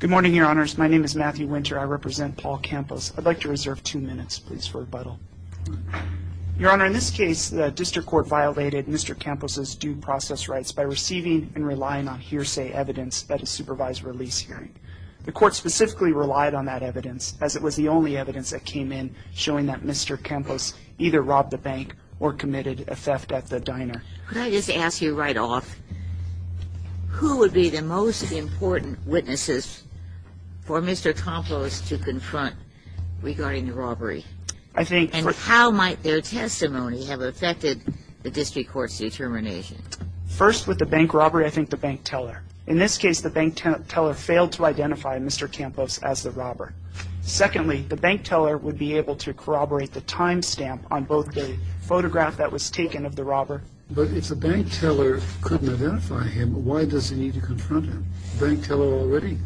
Good morning, your honors. My name is Matthew Winter. I represent Paul Campos. I'd like to reserve two minutes, please, for rebuttal. Your honor, in this case, the district court violated Mr. Campos' due process rights by receiving and relying on hearsay evidence at a supervised release hearing. The court specifically relied on that evidence, as it was the only evidence that came in showing that Mr. Campos either robbed a bank or committed a theft at the diner. Could I just ask you right off, who would be the most important witnesses for Mr. Campos to confront regarding the robbery? And how might their testimony have affected the district court's determination? First, with the bank robbery, I think the bank teller. In this case, the bank teller failed to identify Mr. Campos as the robber. Secondly, the bank teller would be able to corroborate the time stamp on both the photograph that was taken of the robber. But if the bank teller couldn't identify him, why does he need to confront him? The bank teller already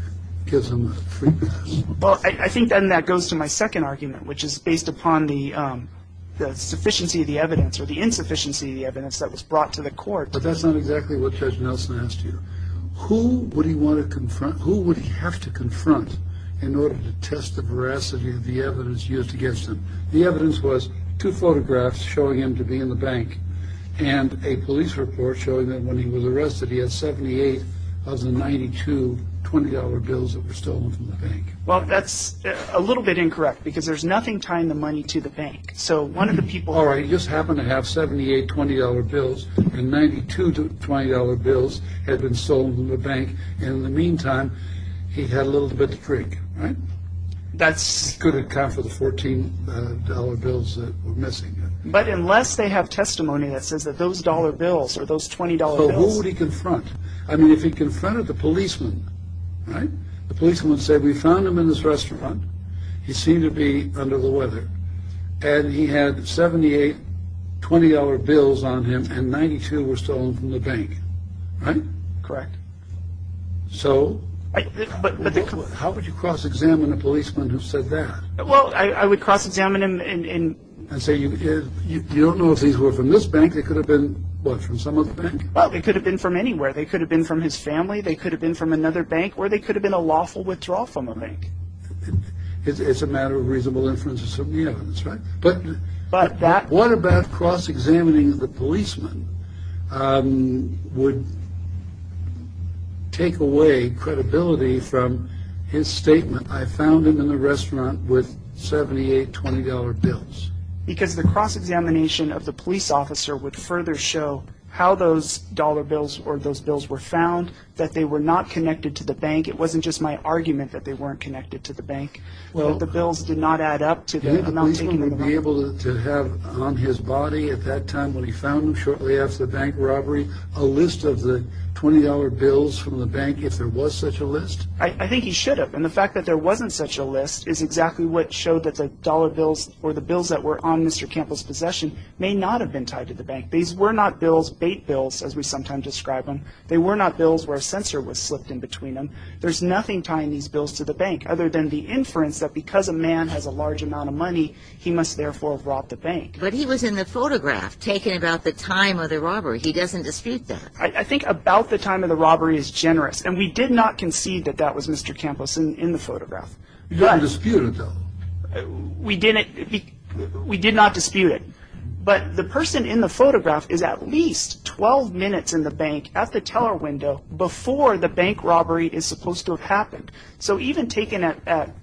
gives him a free pass. Well, I think then that goes to my second argument, which is based upon the sufficiency of the evidence or the insufficiency of the evidence that was brought to the court. But that's not exactly what Judge Nelson asked you. Who would he have to confront in order to test the veracity of the evidence used against him? The evidence was two photographs showing him to be in the bank and a police report showing that when he was arrested, he had $78,092 bills that were stolen from the bank. Well, that's a little bit incorrect because there's nothing tying the money to the bank. All right, he just happened to have $78,20 bills and $92,20 bills had been stolen from the bank. In the meantime, he had a little bit to prick. He could have accounted for the $14 bills that were missing. But unless they have testimony that says that those dollar bills or those $20 bills... I mean, if he confronted the policeman, right? The policeman said, we found him in this restaurant. He seemed to be under the weather and he had $78,20 bills on him and $92 were stolen from the bank. Right? Correct. So how would you cross-examine a policeman who said that? Well, I would cross-examine him and... And say, you don't know if these were from this bank. They could have been, what, from some other bank? Well, they could have been from anywhere. They could have been from his family. They could have been from another bank or they could have been a lawful withdrawal from a bank. It's a matter of reasonable inferences from the evidence, right? But that... What about cross-examining the policeman would take away credibility from his statement, I found him in the restaurant with $78,20 bills? Because the cross-examination of the police officer would further show how those dollar bills or those bills were found, that they were not connected to the bank. It wasn't just my argument that they weren't connected to the bank. Well... That the bills did not add up to the amount taken from the bank. The policeman would be able to have on his body at that time when he found him, shortly after the bank robbery, a list of the $20 bills from the bank, if there was such a list? I think he should have. And the fact that there wasn't such a list is exactly what showed that the dollar bills or the bills that were on Mr. Campbell's possession may not have been tied to the bank. These were not bills, bait bills, as we sometimes describe them. They were not bills where a censor was slipped in between them. There's nothing tying these bills to the bank, other than the inference that because a man has a large amount of money, he must therefore have robbed the bank. But he was in the photograph, taken about the time of the robbery. He doesn't dispute that. I think about the time of the robbery is generous, and we did not concede that that was Mr. Campos in the photograph. You don't dispute it, though? We did not dispute it. But the person in the photograph is at least 12 minutes in the bank, at the teller window, before the bank robbery is supposed to have happened. So even taking that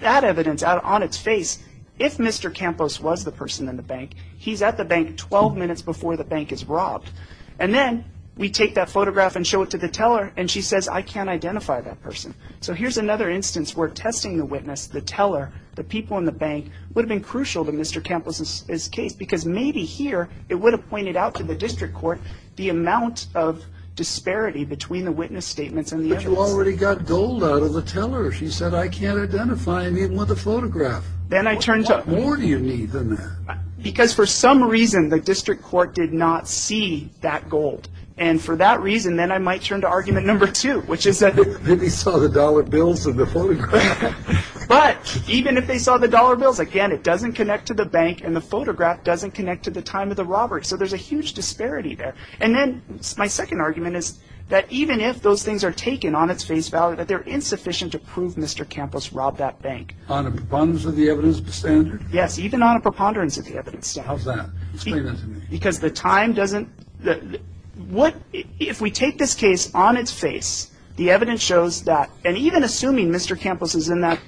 evidence out on its face, if Mr. Campos was the person in the bank, he's at the bank 12 minutes before the bank is robbed. And then we take that photograph and show it to the teller, and she says, I can't identify that person. So here's another instance where testing the witness, the teller, the people in the bank, would have been crucial to Mr. Campos' case, because maybe here it would have pointed out to the district court the amount of disparity between the witness statements and the evidence. But you already got gold out of the teller. She said, I can't identify him even with the photograph. Then I turned to her. What more do you need than that? Because for some reason, the district court did not see that gold. And for that reason, then I might turn to argument number two, which is that they saw the dollar bills in the photograph. But even if they saw the dollar bills, again, it doesn't connect to the bank, and the photograph doesn't connect to the time of the robbery. So there's a huge disparity there. And then my second argument is that even if those things are taken on its face, that they're insufficient to prove Mr. Campos robbed that bank. On a preponderance of the evidence standard? Yes, even on a preponderance of the evidence standard. How's that? Explain that to me. Because the time doesn't – what – if we take this case on its face, the evidence shows that – and even assuming Mr. Campos is in that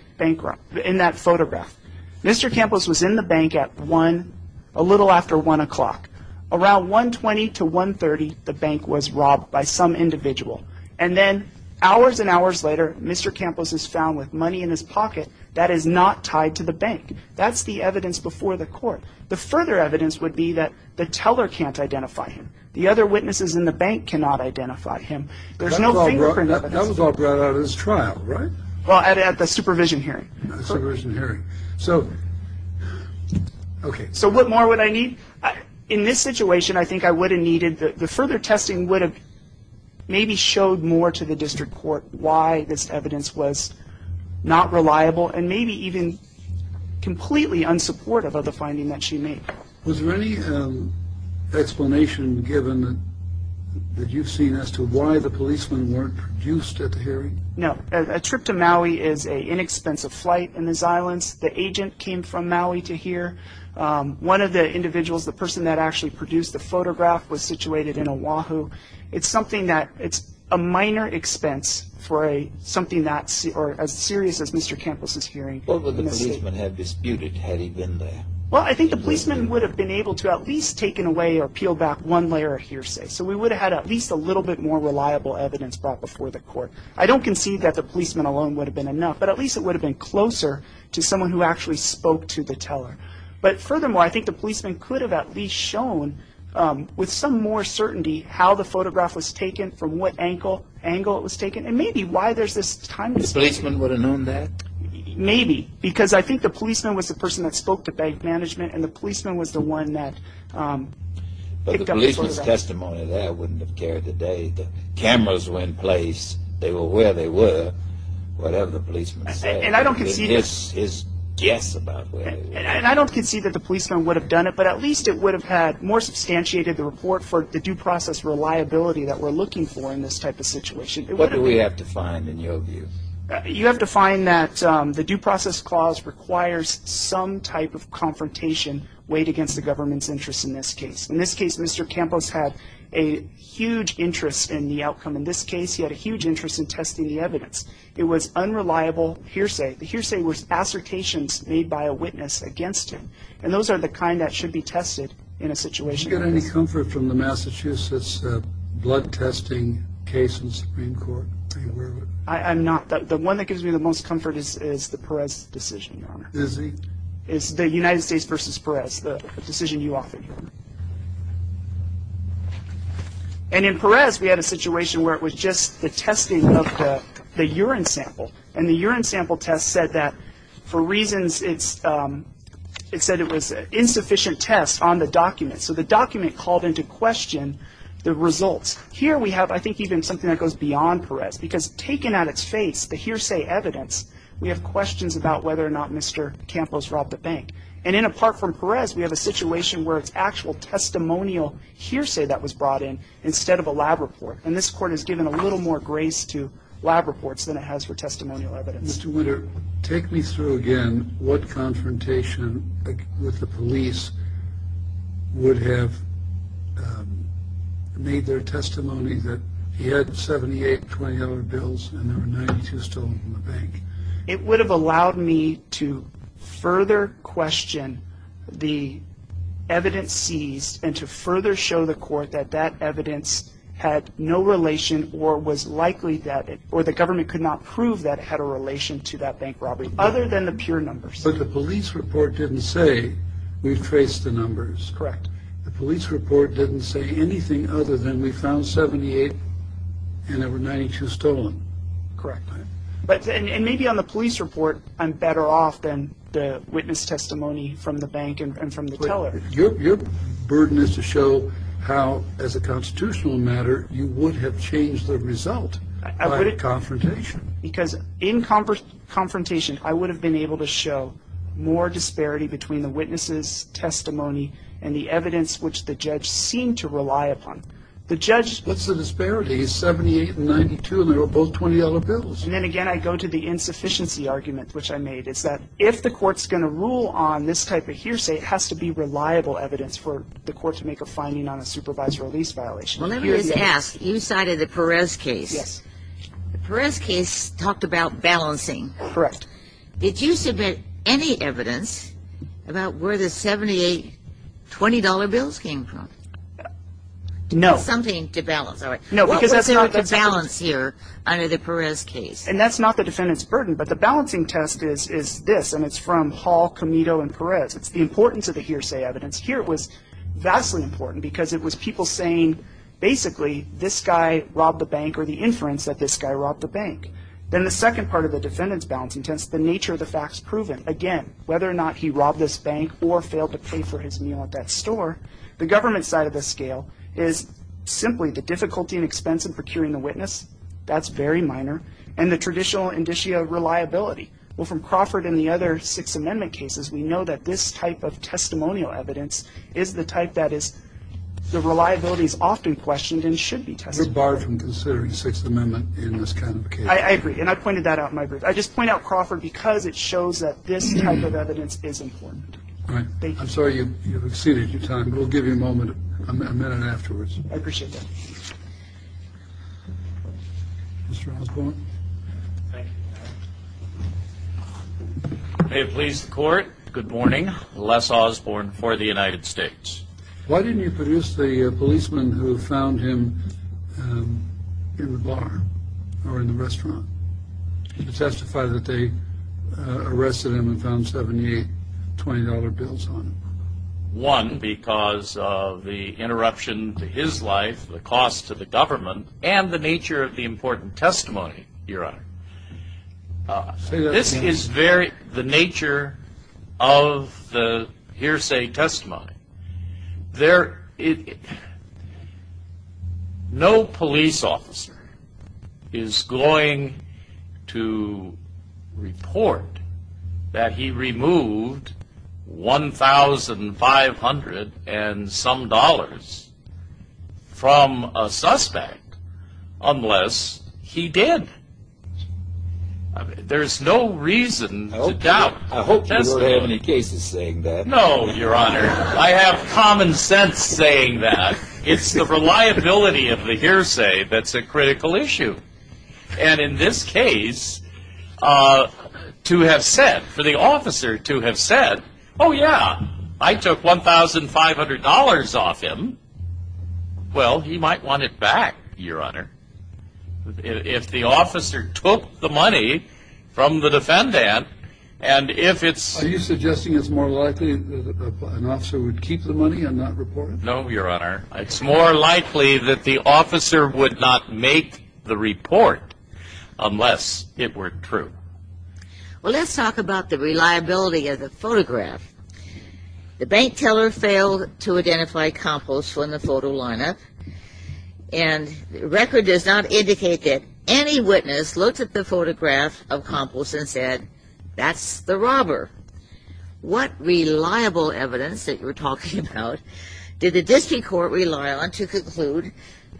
photograph, Mr. Campos was in the bank at 1, a little after 1 o'clock. Around 1.20 to 1.30, the bank was robbed by some individual. And then hours and hours later, Mr. Campos is found with money in his pocket. That is not tied to the bank. That's the evidence before the court. The further evidence would be that the teller can't identify him. The other witnesses in the bank cannot identify him. There's no fingerprint evidence. That was all brought out at his trial, right? Well, at the supervision hearing. The supervision hearing. So – okay. So what more would I need? In this situation, I think I would have needed – the further testing would have maybe showed more to the district court why this evidence was not reliable and maybe even completely unsupportive of the finding that she made. Was there any explanation given that you've seen as to why the policemen weren't produced at the hearing? No. A trip to Maui is an inexpensive flight in the Zilens. The agent came from Maui to here. One of the individuals, the person that actually produced the photograph, was situated in Oahu. It's something that – it's a minor expense for something as serious as Mr. Campos' hearing. What would the policemen have disputed had he been there? Well, I think the policemen would have been able to at least taken away or peel back one layer of hearsay. So we would have had at least a little bit more reliable evidence brought before the court. I don't concede that the policemen alone would have been enough, but at least it would have been closer to someone who actually spoke to the teller. But furthermore, I think the policemen could have at least shown with some more certainty how the photograph was taken, from what angle it was taken, and maybe why there's this timeless – The policemen would have known that? Maybe, because I think the policeman was the person that spoke to bank management, and the policeman was the one that picked up the photograph. But the policeman's testimony there wouldn't have carried the day. The cameras were in place. They were where they were, whatever the policeman said. And I don't concede – And I don't concede that the policeman would have done it, but at least it would have had more substantiated the report for the due process reliability that we're looking for in this type of situation. What do we have to find, in your view? You have to find that the due process clause requires some type of confrontation weighed against the government's interest in this case. In this case, Mr. Campos had a huge interest in the outcome. In this case, he had a huge interest in testing the evidence. It was unreliable hearsay. The hearsay was assertations made by a witness against him, and those are the kind that should be tested in a situation like this. Did you get any comfort from the Massachusetts blood testing case in the Supreme Court? Are you aware of it? I'm not. The one that gives me the most comfort is the Perez decision, Your Honor. Is he? It's the United States v. Perez, the decision you offered, Your Honor. And in Perez, we had a situation where it was just the testing of the urine sample, and the urine sample test said that for reasons, it said it was insufficient test on the document. So the document called into question the results. Here we have, I think, even something that goes beyond Perez, because taken at its face, the hearsay evidence, we have questions about whether or not Mr. Campos robbed a bank. And apart from Perez, we have a situation where it's actual testimonial hearsay that was brought in instead of a lab report, and this court has given a little more grace to lab reports than it has for testimonial evidence. Mr. Winter, take me through again what confrontation with the police would have made their testimony that he had 78 $20 bills and there were 92 stolen from the bank. It would have allowed me to further question the evidence seized and to further show the court that that evidence had no relation or the government could not prove that it had a relation to that bank robbery, other than the pure numbers. But the police report didn't say, we traced the numbers. Correct. The police report didn't say anything other than we found 78 and there were 92 stolen. Correct. And maybe on the police report, I'm better off than the witness testimony from the bank and from the teller. Your burden is to show how, as a constitutional matter, you would have changed the result by confrontation. Because in confrontation, I would have been able to show more disparity between the witness's testimony and the evidence which the judge seemed to rely upon. What's the disparity? It's 78 and 92 and they were both $20 bills. And then again I go to the insufficiency argument, which I made, is that if the court's going to rule on this type of hearsay, it has to be reliable evidence for the court to make a finding on a supervised release violation. Well, let me just ask, you cited the Perez case. Yes. The Perez case talked about balancing. Correct. Did you submit any evidence about where the 78 $20 bills came from? No. Something to balance, all right. What was there to balance here under the Perez case? And that's not the defendant's burden, but the balancing test is this, and it's from Hall, Camito, and Perez. It's the importance of the hearsay evidence. Here it was vastly important because it was people saying, basically, this guy robbed the bank or the inference that this guy robbed the bank. Then the second part of the defendant's balancing test, the nature of the facts proven. Again, whether or not he robbed this bank or failed to pay for his meal at that store, the government side of the scale is simply the difficulty and expense of procuring the witness. That's very minor. And the traditional indicia of reliability. Well, from Crawford and the other Sixth Amendment cases, we know that this type of testimonial evidence is the type that is the reliability is often questioned and should be tested. We're barred from considering Sixth Amendment in this kind of case. I agree. And I pointed that out in my brief. I just point out Crawford because it shows that this type of evidence is important. All right. I'm sorry you've exceeded your time. We'll give you a moment, a minute afterwards. I appreciate that. Mr. Osborne. Thank you. May it please the Court. Good morning. Les Osborne for the United States. Why didn't you produce the policeman who found him in the bar or in the restaurant to testify that they arrested him and found $78, $20 bills on him? One, because of the interruption to his life, the cost to the government, and the nature of the important testimony, Your Honor. This is the nature of the hearsay testimony. No police officer is going to report that he removed $1,500 and some dollars from a suspect unless he did. There's no reason to doubt. I hope you don't have any cases saying that. No, Your Honor. I have common sense saying that. It's the reliability of the hearsay that's a critical issue. And in this case, to have said, for the officer to have said, oh, yeah, I took $1,500 off him, well, he might want it back, Your Honor, if the officer took the money from the defendant. Are you suggesting it's more likely that an officer would keep the money and not report it? No, Your Honor. It's more likely that the officer would not make the report unless it were true. Well, let's talk about the reliability of the photograph. The bank teller failed to identify Campos from the photo lineup, and the record does not indicate that any witness looked at the photograph of Campos and said, that's the robber. What reliable evidence that you're talking about did the district court rely on to conclude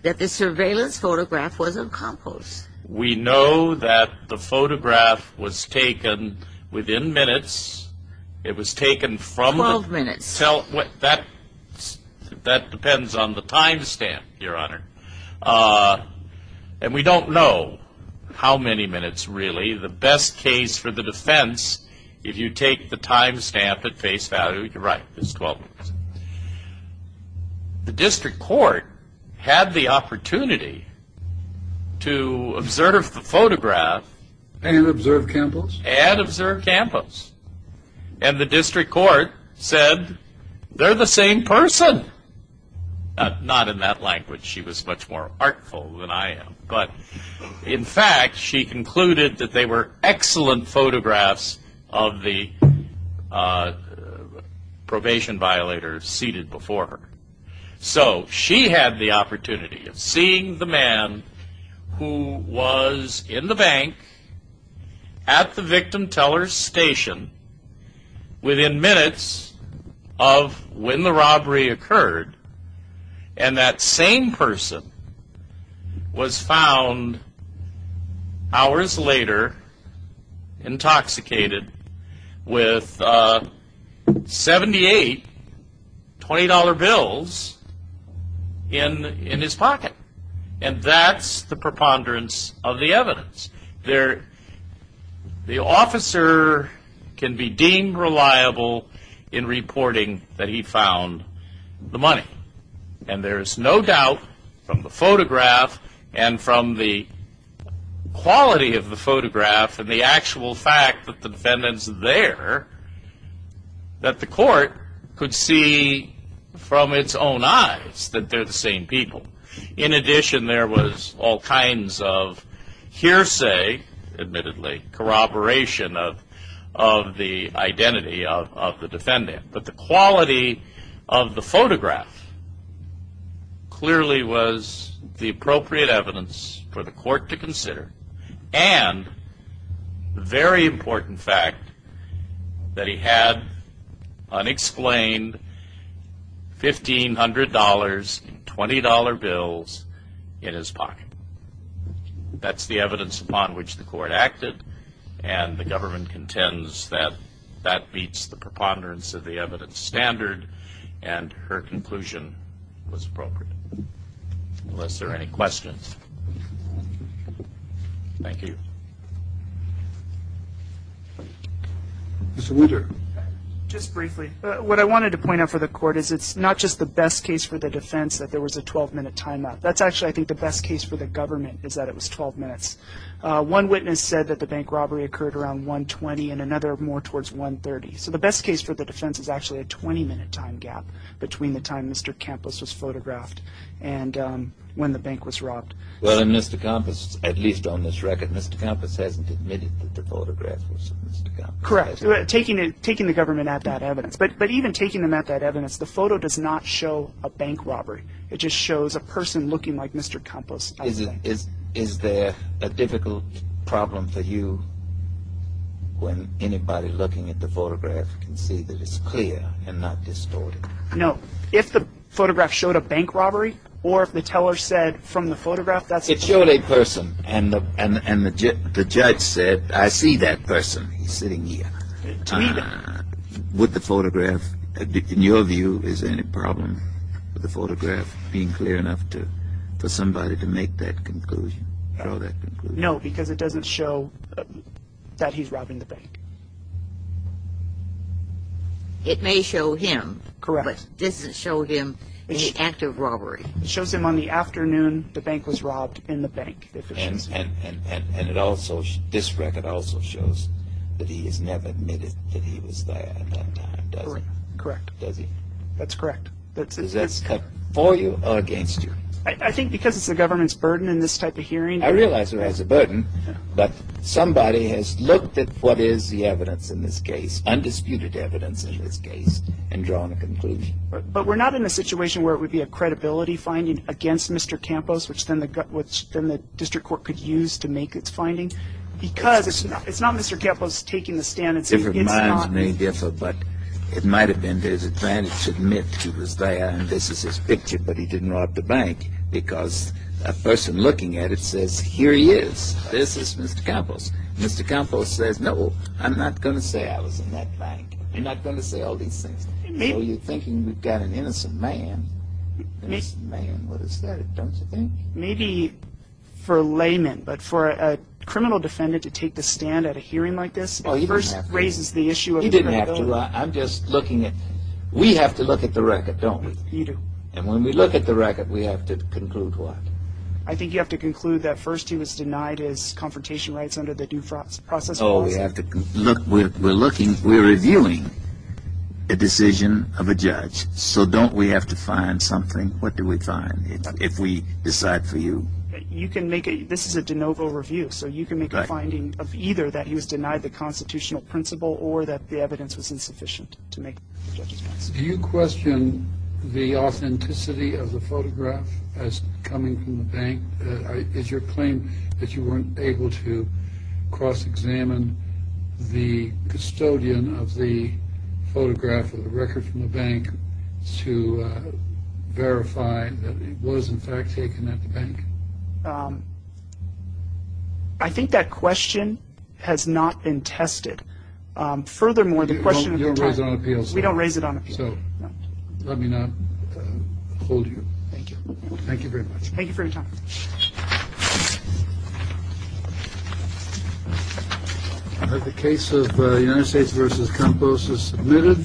that the surveillance photograph was of Campos? We know that the photograph was taken within minutes. It was taken from the 12 minutes. That depends on the time stamp, Your Honor. And we don't know how many minutes really. The best case for the defense, if you take the time stamp at face value, you're right, it's 12 minutes. The district court had the opportunity to observe the photograph. And observe Campos? And observe Campos. And the district court said, they're the same person. Not in that language. She was much more artful than I am. But in fact, she concluded that they were excellent photographs of the probation violator seated before her. So she had the opportunity of seeing the man who was in the bank at the victim teller's station within minutes of when the robbery occurred. And that same person was found hours later intoxicated with 78 $20 bills in his pocket. And that's the preponderance of the evidence. The officer can be deemed reliable in reporting that he found the money. And there is no doubt from the photograph and from the quality of the photograph and the actual fact that the defendant's there, that the court could see from its own eyes that they're the same people. In addition, there was all kinds of hearsay, admittedly, corroboration of the identity of the defendant. But the quality of the photograph clearly was the appropriate evidence for the court to consider. And the very important fact that he had unexplained $1,500, $20 bills in his pocket. That's the evidence upon which the court acted. And the government contends that that beats the preponderance of the evidence standard. And her conclusion was appropriate. Unless there are any questions. Thank you. Mr. Woodard. Just briefly. What I wanted to point out for the court is it's not just the best case for the defense that there was a 12-minute timeout. That's actually, I think, the best case for the government is that it was 12 minutes. One witness said that the bank robbery occurred around 1.20 and another more towards 1.30. So the best case for the defense is actually a 20-minute time gap between the time Mr. Campos was photographed and when the bank was robbed. Well, and Mr. Campos, at least on this record, Mr. Campos hasn't admitted that the photograph was of Mr. Campos. Correct. Taking the government at that evidence. But even taking them at that evidence, the photo does not show a bank robbery. It just shows a person looking like Mr. Campos. Is there a difficult problem for you when anybody looking at the photograph can see that it's clear and not distorted? No. If the photograph showed a bank robbery or if the teller said from the photograph that's a bank robbery. It showed a person. And the judge said, I see that person. He's sitting here. Would the photograph, in your view, is there any problem with the photograph being clear enough for somebody to make that conclusion, show that conclusion? No, because it doesn't show that he's robbing the bank. It may show him. Correct. But it doesn't show him in the act of robbery. It shows him on the afternoon the bank was robbed in the bank. And this record also shows that he has never admitted that he was there at that time, does he? Correct. Does he? That's correct. Is that for you or against you? I think because it's the government's burden in this type of hearing. I realize it has a burden, but somebody has looked at what is the evidence in this case, undisputed evidence in this case, and drawn a conclusion. But we're not in a situation where it would be a credibility finding against Mr. Campos, which then the district court could use to make its finding, because it's not Mr. Campos taking the stand and saying it's not. Different minds may differ, but it might have been his advantage to admit he was there. This is his picture, but he didn't rob the bank because a person looking at it says, here he is. This is Mr. Campos. Mr. Campos says, no, I'm not going to say I was in that bank. I'm not going to say all these things. You're thinking we've got an innocent man. An innocent man. What is that? Don't you think? Maybe for a layman, but for a criminal defendant to take the stand at a hearing like this first raises the issue. He didn't have to. I'm just looking at it. We have to look at the record, don't we? You do. And when we look at the record, we have to conclude what? I think you have to conclude that first he was denied his confrontation rights under the due process process. We're reviewing a decision of a judge, so don't we have to find something? What do we find if we decide for you? This is a de novo review, so you can make a finding of either that he was denied the constitutional principle or that the evidence was insufficient to make the judge's decision. Do you question the authenticity of the photograph as coming from the bank? Is your claim that you weren't able to cross-examine the custodian of the photograph or the record from the bank to verify that it was, in fact, taken at the bank? I think that question has not been tested. Furthermore, the question of your time. You don't raise it on appeal? We don't raise it on appeal. So let me not hold you. Thank you. Thank you very much. Thank you for your time. The case of the United States versus Campos is submitted.